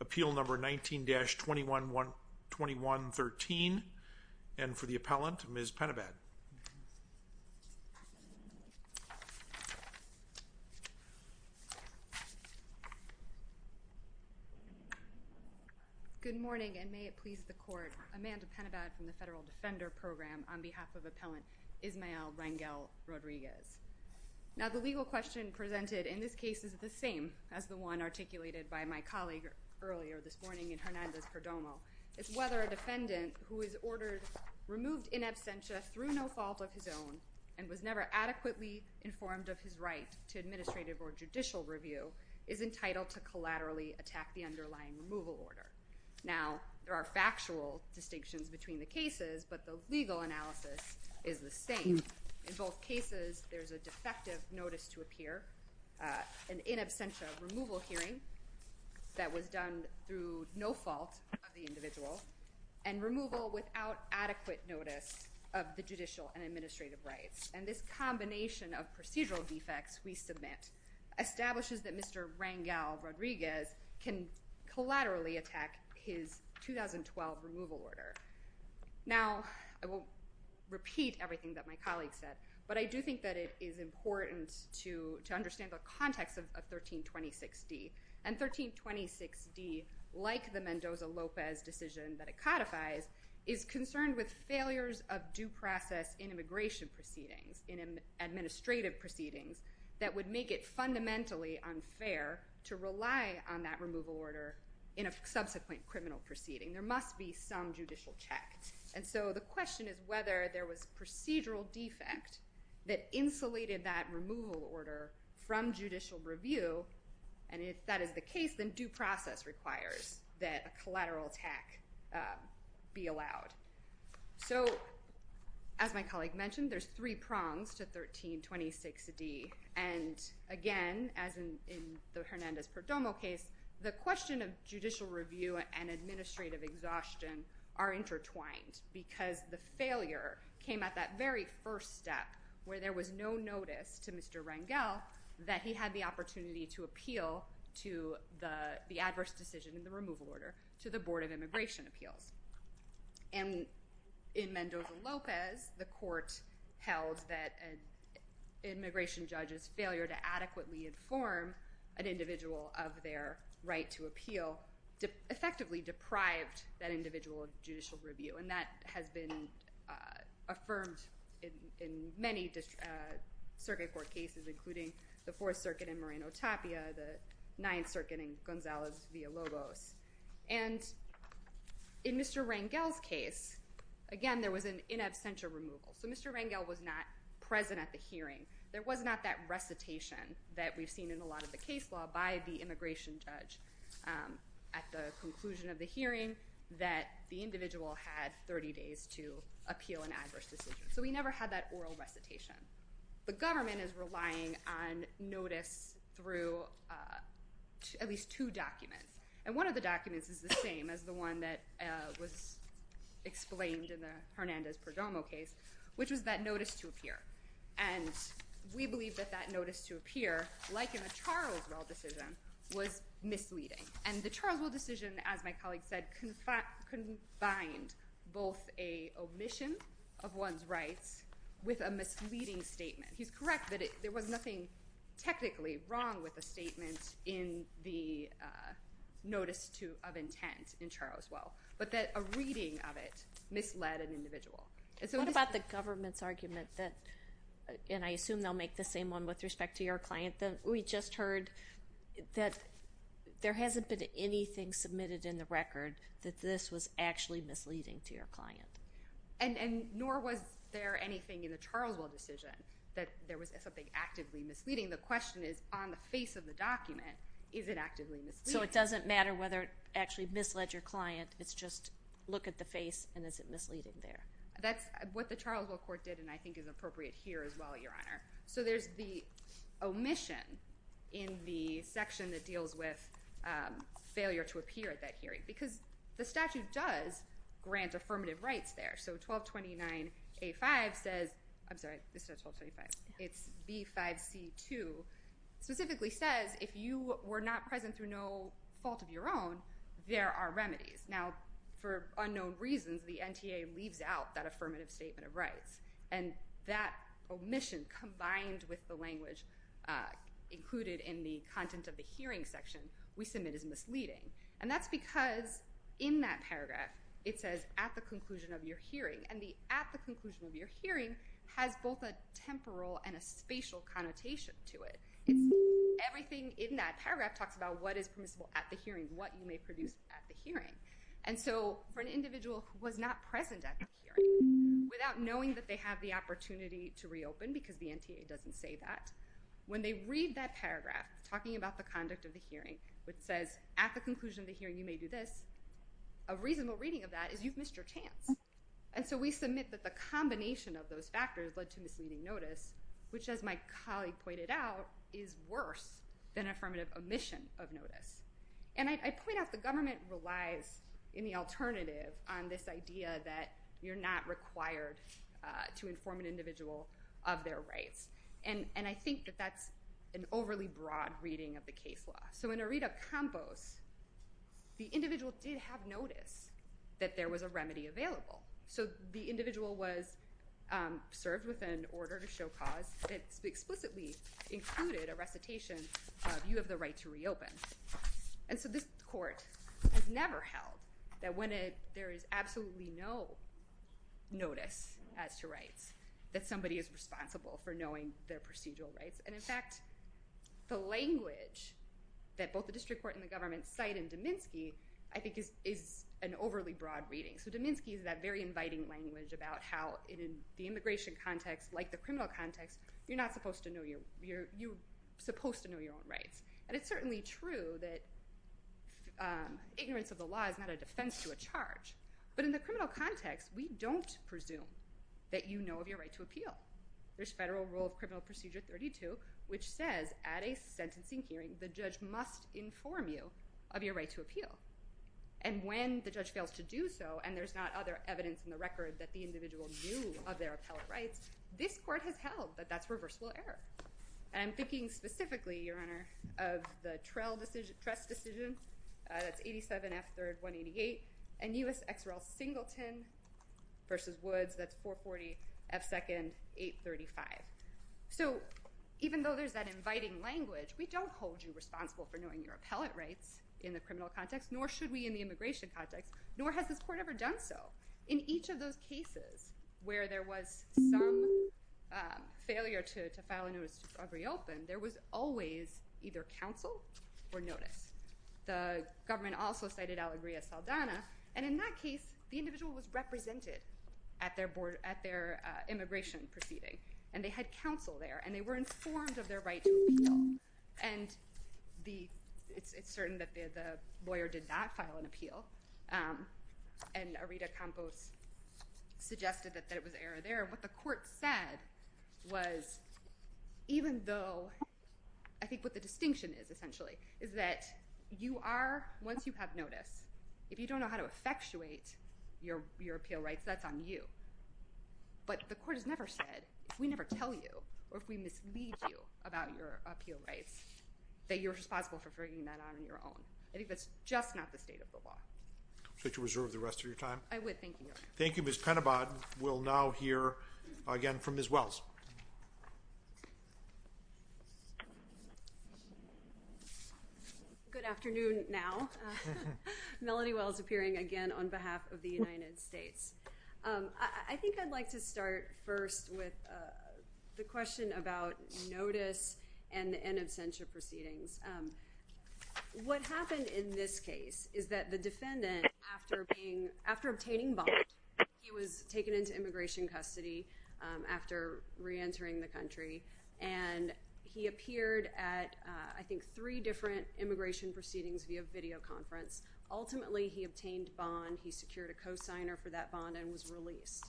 Appeal Number 19-2113. And for the appellant, Ms. Penebed. Good morning, and may it please the Court. I'm Amy Penebed. I'm here on behalf of the Federal Defender Program on behalf of Appellant Ismael Rangel-Rodriguez. Now, the legal question presented in this case is the same as the one articulated by my colleague earlier this morning in Hernandez-Perdomo. It's whether a defendant who is ordered removed in absentia through no fault of his own and was never adequately informed of his right to administrative or judicial review is entitled to collaterally attack the underlying removal order. Now, there are factual distinctions between the cases, but the legal analysis is the same. In both cases, there's a defective notice to appear, an in absentia removal hearing that was done through no fault of the individual, and removal without adequate notice of the judicial and administrative rights. And this combination of procedural defects we submit establishes that Mr. Rangel-Rodriguez can collaterally attack his 2012 removal order. Now, I won't repeat everything that my colleague said, but I do think that it is important to understand the context of 1326D. And 1326D, like the Mendoza-Lopez decision that it codifies, is concerned with failures of due process in immigration proceedings, in administrative proceedings, that would make it fundamentally unfair to rely on that removal order in a subsequent criminal proceeding. There must be some judicial check. And so the question is whether there was procedural defect that insulated that removal order from judicial review, and if that is the case, then due process requires that a collateral attack be allowed. So, as my colleague mentioned, there's three prongs to 1326D. And again, as in the Hernandez-Perdomo case, the question of judicial review and administrative exhaustion are intertwined because the failure came at that very first step, where there was no notice to Mr. Rangel that he had the opportunity to appeal to the adverse decision in the removal order to the Board of Immigration Appeals. And in Mendoza-Lopez, the court held that an immigration judge's failure to adequately inform an individual of their right to appeal effectively deprived that individual of judicial review. And that has been affirmed in many circuit court cases, including the Fourth Circuit in Moreno-Tapia, the Ninth Circuit in Gonzalez-Villalobos. And in Mr. Rangel's case, again, there was an in absentia removal. So Mr. Rangel was not present at the hearing. There was not that recitation that we've seen in a lot of the case law by the immigration judge at the conclusion of the hearing that the individual had 30 days to appeal an adverse decision. So we never had that oral recitation. The government is relying on notice through at least two documents. And one of the documents is the same as the one that was explained in the Hernandez-Perdomo case, which was that notice to appear. And we believe that that notice to appear, like in the Charleswell decision, was misleading. And the Charleswell decision, as my colleague said, combined both an omission of one's rights with a misleading statement. He's correct that there was nothing technically wrong with the statement in the notice of intent in Charleswell, but that a reading of it misled an individual. What about the government's argument that, and I assume they'll make the same one with respect to your client, that we just heard that there hasn't been anything submitted in the record that this was actually misleading to your client? And nor was there anything in the Charleswell decision that there was something actively misleading. The question is, on the face of the document, is it actively misleading? So it doesn't matter whether it actually misled your client. It's just look at the face and is it misleading there? That's what the Charleswell court did and I think is appropriate here as well, Your omission in the section that deals with failure to appear at that hearing. Because the statute does grant affirmative rights there. So 1229A-5 says, I'm sorry, this is not 1229A-5, it's B-5C-2, specifically says if you were not present through no fault of your own, there are remedies. Now, for unknown reasons, the NTA leaves out that affirmative statement of rights. And that omission combined with the language included in the content of the hearing section, we submit as misleading. And that's because in that paragraph, it says at the conclusion of your hearing. And the at the conclusion of your hearing has both a temporal and a spatial connotation to it. Everything in that paragraph talks about what is permissible at the hearing, what you may produce at the hearing. And so for an individual who was not present at the hearing, without knowing that they have the opportunity to reopen, because the NTA doesn't say that, when they read that paragraph talking about the conduct of the hearing, which says at the conclusion of the hearing you may do this, a reasonable reading of that is you've missed your chance. And so we submit that the combination of those factors led to misleading notice, which as my colleague pointed out, is worse than affirmative omission of notice. And I point out the government relies in the alternative on this idea that you're not required to inform an individual of their rights. And I think that that's an overly broad reading of the case law. So in a read of Campos, the individual did have notice that there was a remedy available. So the individual was served with an order to show cause that explicitly included a recitation of you have the right to reopen. And so this court has never held that when there is absolutely no notice as to rights, that somebody is responsible for knowing their procedural rights. And in fact, the language that both the district court and the government cite in Dominski, I think is an overly broad reading. So Dominski is that very inviting language about how in the immigration context, like the criminal context, you're not supposed to know your, you're supposed to know your own rights. And it's certainly true that ignorance of the law is not a defense to a charge. But in the criminal context, we don't presume that you know of your right to appeal. There's federal rule of criminal procedure 32, which says at a sentencing hearing, the judge must inform you of your right to appeal. And when the judge fails to do so, and there's not other evidence in the record that the individual knew of their appellate rights, this court has held that that's reversible error. And I'm thinking specifically, Your Honor, of the Trest decision, that's 87 F 3rd 188, and U.S. XRL Singleton v. Woods, that's 440 F 2nd 835. So even though there's that inviting language, we don't hold you responsible for knowing your appellate rights in the criminal context, nor should we in the immigration context, nor has this court ever done so. In each of those cases where there was some failure to file a notice of reopen, there was always either counsel or notice. The government also cited Alegría Saldana, and in that case, the individual was represented at their immigration proceeding, and they had counsel there, and they were informed of their right to appeal. And it's certain that the lawyer did not file an appeal, and Arita Campos suggested that it was error there. What the court said was, even though I think what the distinction is, essentially, is that you are, once you have notice, if you don't know how to effectuate your appeal rights, that's on you. But the court has never said, if we never tell you or if we mislead you about your appeal rights, that you're responsible for figuring that out on your own. I think that's just not the state of the law. Should I reserve the rest of your time? I would. Thank you, Your Honor. Thank you, Ms. Penobot. We'll now hear again from Ms. Wells. Good afternoon now. Melody Wells appearing again on behalf of the United States. I think I'd like to start first with the question about notice and absentia proceedings. What happened in this case is that the defendant, after obtaining bond, he was taken into immigration custody after reentering the country, and he appeared at, I think, three different immigration proceedings via videoconference. Ultimately, he obtained bond, he secured a cosigner for that bond, and was released.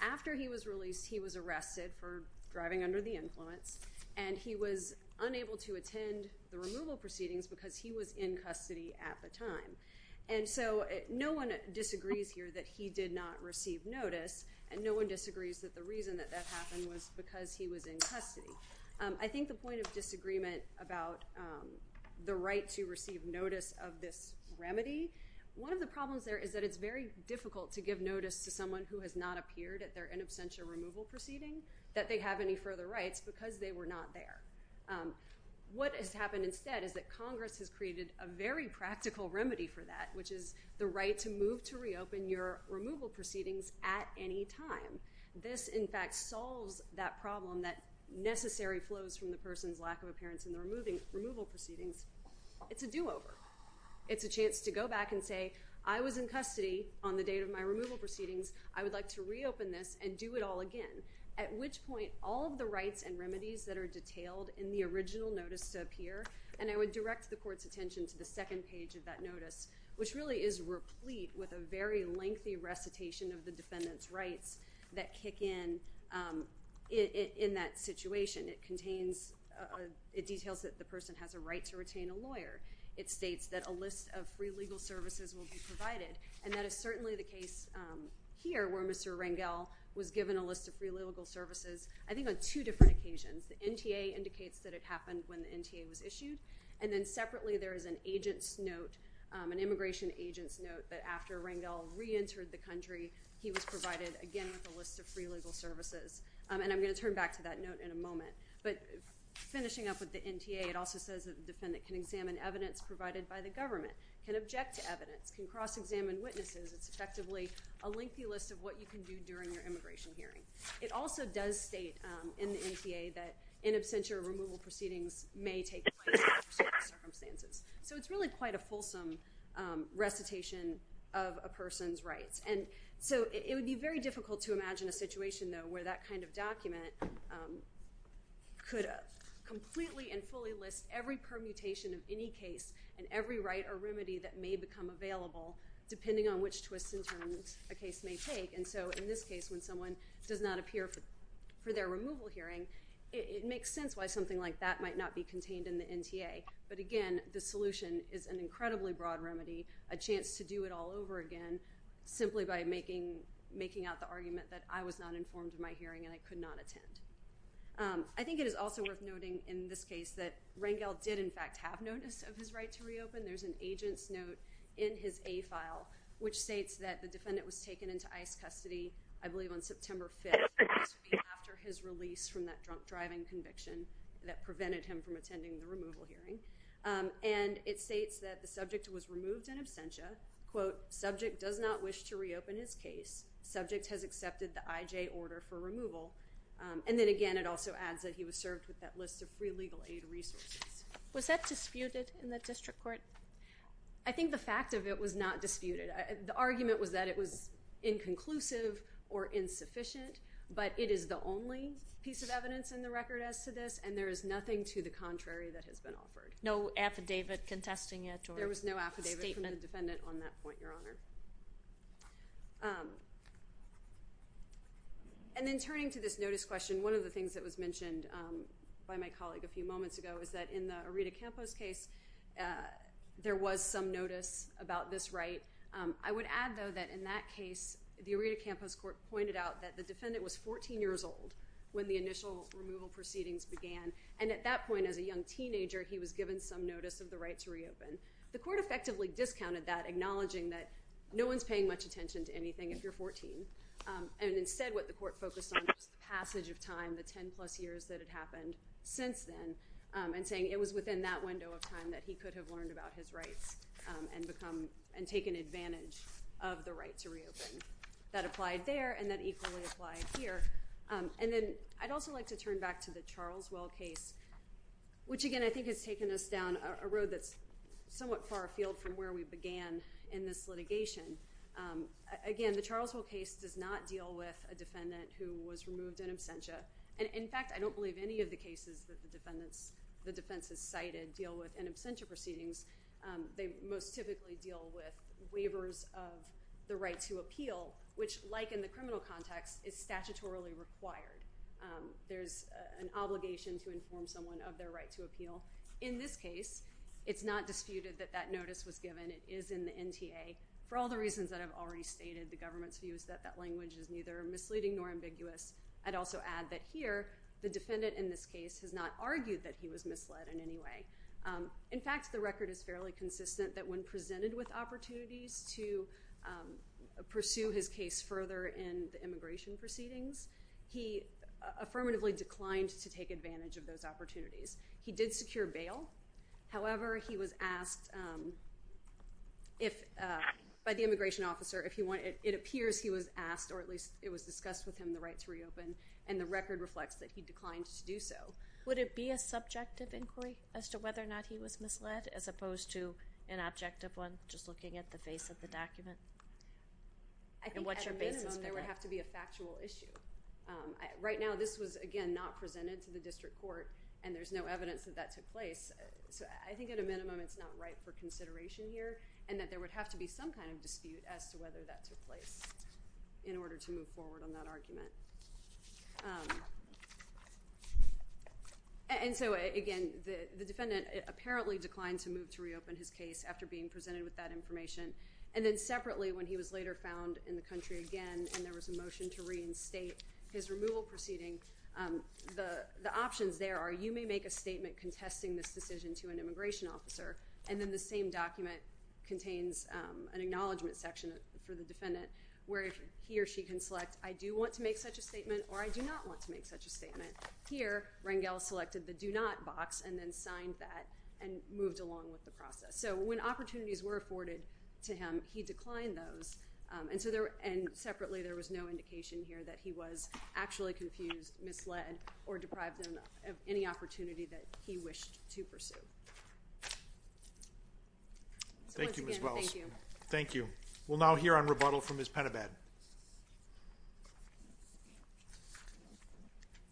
After he was released, he was arrested for driving under the influence, and he was unable to attend the removal proceedings because he was in custody at the time. And so no one disagrees here that he did not receive notice, and no one disagrees that the reason that that happened was because he was in custody. I think the point of disagreement about the right to receive notice of this remedy, one of the problems there is that it's very difficult to give notice to someone who has not appeared at their in absentia removal proceeding that they have any further rights because they were not there. What has happened instead is that Congress has created a very practical remedy for that, which is the right to move to reopen your removal proceedings at any time. This, in fact, solves that problem that necessary flows from the person's lack of appearance in the removal proceedings. It's a do-over. It's a chance to go back and say, I was in custody on the date of my removal proceedings. I would like to reopen this and do it all again. At which point, all of the rights and remedies that are detailed in the original notice to appear, and I would direct the court's attention to the second page of that notice, which really is replete with a very lengthy recitation of the defendant's rights that kick in in that situation. It details that the person has a right to retain a lawyer. It states that a list of free legal services will be provided. And that is certainly the case here where Mr. Rangel was given a list of free legal services, I think on two different occasions. The NTA indicates that it happened when the NTA was issued. And then separately, there is an agent's note, an immigration agent's note, that after Rangel reentered the country, he was provided again with a list of free legal services. And I'm going to turn back to that note in a moment. But finishing up with the NTA, it also says that the defendant can examine evidence provided by the government, can object to evidence, can cross-examine witnesses. It's effectively a lengthy list of what you can do during your immigration hearing. It also does state in the NTA that in absentia, removal proceedings may take place under certain circumstances. So it's really quite a fulsome recitation of a person's rights. And so it would be very difficult to imagine a situation, though, where that kind of document could completely and fully list every permutation of any case and every right or remedy that may become available depending on which twists and turns a case may take. And so in this case, when someone does not appear for their removal hearing, it makes sense why something like that might not be contained in the NTA. But again, the solution is an incredibly broad remedy, a chance to do it all over again simply by making out the argument that I was not informed of my hearing and I could not attend. I think it is also worth noting in this case that Rangel did in fact have notice of his right to reopen. There's an agent's note in his A file which states that the defendant was taken into ICE custody, I believe on September 5th, after his release from that drunk driving conviction that prevented him from attending the removal hearing. And it states that the subject has accepted the IJ order for removal. And then again, it also adds that he was served with that list of free legal aid resources. Was that disputed in the district court? I think the fact of it was not disputed. The argument was that it was inconclusive or insufficient, but it is the only piece of evidence in the record as to this, and there is nothing to the contrary that has been offered. No affidavit contesting it or statement? There was no affidavit from the defendant on that point, Your Honor. And then turning to this notice question, one of the things that was mentioned by my colleague a few moments ago is that in the Aretha Campos case, there was some notice about this right. I would add though that in that case, the Aretha Campos court pointed out that the defendant was 14 years old when the initial removal proceedings began, and at that point as a young teenager, he was acknowledging that no one's paying much attention to anything if you're 14. And instead what the court focused on was the passage of time, the 10 plus years that had happened since then, and saying it was within that window of time that he could have learned about his rights and taken advantage of the right to reopen. That applied there, and that equally applied here. And then I'd also like to turn back to the Charles Well case, which again I think has taken us down a road that's somewhat far afield from where we began in this litigation. Again, the Charles Well case does not deal with a defendant who was removed in absentia. And in fact, I don't believe any of the cases that the defense has cited deal with in absentia proceedings. They most typically deal with waivers of the right to appeal, which like in the criminal context, is statutorily required. There's an obligation to inform someone of their right to appeal. In this case, it's not disputed that that notice was given. It is in the NTA. For all the reasons that I've already stated, the government's view is that that language is neither misleading nor ambiguous. I'd also add that here, the defendant in this case has not argued that he was misled in any way. In fact, the record is fairly consistent that when presented with opportunities to pursue his case further in the immigration proceedings, he affirmatively declined to take advantage of those opportunities. He did secure bail. However, he was asked by the immigration officer, it appears he was asked, or at least it was discussed with him, the right to reopen. And the record reflects that he declined to do so. Would it be a subjective inquiry as to whether or not he was misled as opposed to an objective one, just looking at the face of the document? And what's your basis for that? It would have to be a factual issue. Right now, this was, again, not presented to the district court, and there's no evidence that that took place. So I think at a minimum, it's not right for consideration here, and that there would have to be some kind of dispute as to whether that took place in order to move forward on that argument. And so, again, the defendant apparently declined to move to reopen his case after being presented with that information. And then separately, when he was later found in the country again, and there was a motion to reinstate his removal proceeding, the options there are you may make a statement contesting this decision to an immigration officer, and then the same document contains an acknowledgment section for the defendant where he or she can select I do want to make such a statement or I do not want to make such a statement. Here, Rangel selected the do not box and then signed that and moved along with the process. So when opportunities were afforded to him, he declined those. And separately, there was no indication here that he was actually confused, misled, or deprived of any opportunity that he wished to pursue. Thank you, Ms. Wells. Thank you. We'll now hear on rebuttal from Ms. Penabad.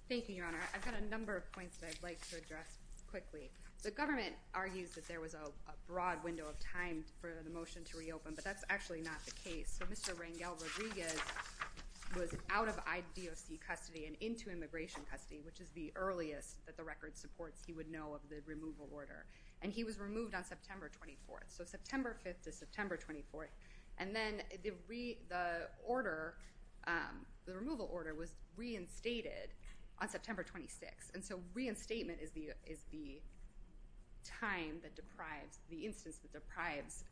Thank you, Your Honor. I've got a number of points that I'd like to address quickly. The government argues that there was a broad window of time for the motion to reopen, but that's actually not the case. So Mr. Rangel Rodriguez was out of IDOC custody and into immigration custody, which is the earliest that the record supports he would know of the removal order. And he was removed on September 24th. So September 5th to September 24th. And then the order, the removal order was reinstated on September 26th. And so reinstatement is the time that deprives, the instance that deprives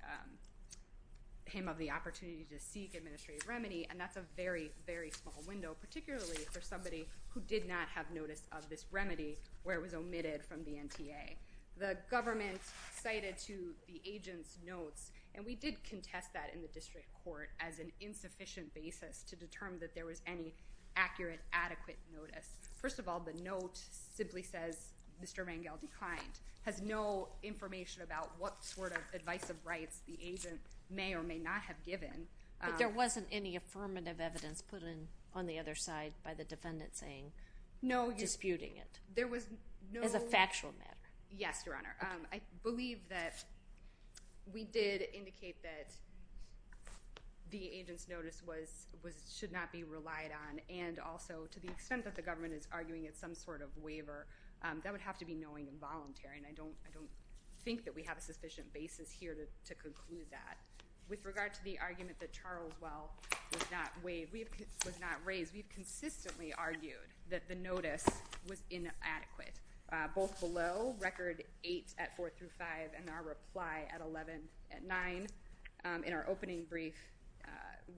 him of the opportunity to seek administrative remedy, and that's a very, very small window, particularly for somebody who did not have notice of this remedy where it was omitted from the NTA. The government cited to the agent's notes, and we did contest that in the district court as an insufficient basis to determine that there was any accurate, adequate notice. First of all, the note simply says Mr. Rangel declined, has no information about what sort of advice of rights the agent may or may not have given. But there wasn't any affirmative evidence put in on the other side by the defendant saying, disputing it. No, there was no... As a factual matter. Yes, Your Honor. I believe that we did indicate that the agent's notice should not be relied on, and also to the extent that the government is arguing it's some sort of waiver, that would have to be knowing and voluntary, and I don't think that we have a sufficient basis here to conclude that. With regard to the argument that Charles Well was not raised, we've consistently argued that the notice was inadequate, both below Record 8 at 4 through 25, and our reply at 11 at 9. In our opening brief,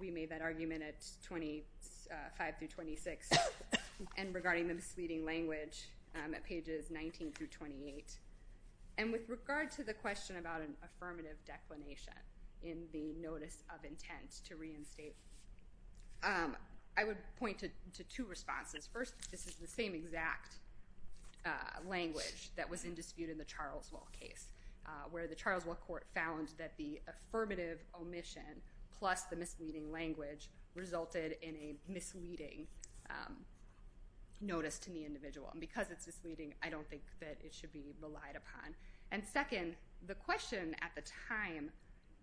we made that argument at 25 through 26, and regarding the misleading language at pages 19 through 28. And with regard to the question about an affirmative declination in the notice of intent to reinstate, I would point to two responses. First, this is the same exact language that was in dispute in the Charles Well case, where the Charles Well court found that the affirmative omission plus the misleading language resulted in a misleading notice to the individual. And because it's misleading, I don't think that it should be relied upon. And second, the question at the time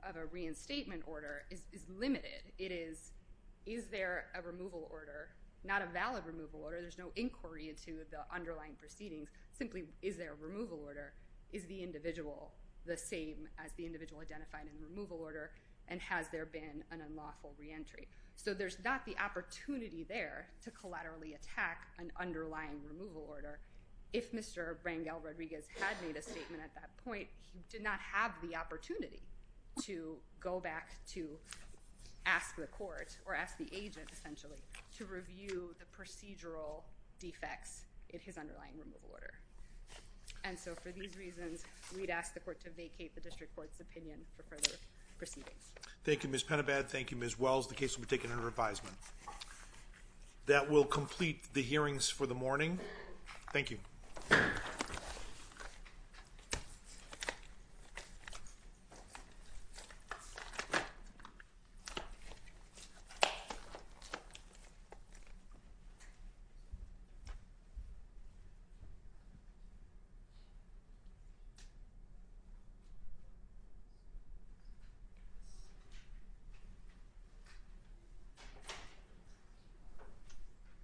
of a reinstatement order is limited. It is, is there a removal order? Not a valid removal order. There's no inquiry into the underlying proceedings. Simply, is there a removal order? Is the individual the same as the individual identified in the removal order, and has there been an unlawful reentry? So there's not the opportunity there to collaterally attack an underlying removal order. If Mr. Rangel Rodriguez had made a statement at that point, he did not have the opportunity to go back to ask the court, or ask the agent essentially, to review the procedural defects in his underlying removal order. And so for these reasons, we'd ask the court to vacate the district court's opinion for further proceedings. Thank you, Ms. Penabad. Thank you, Ms. Wells. The case will be taken under That will complete the hearings for the morning. Thank you. Thank you.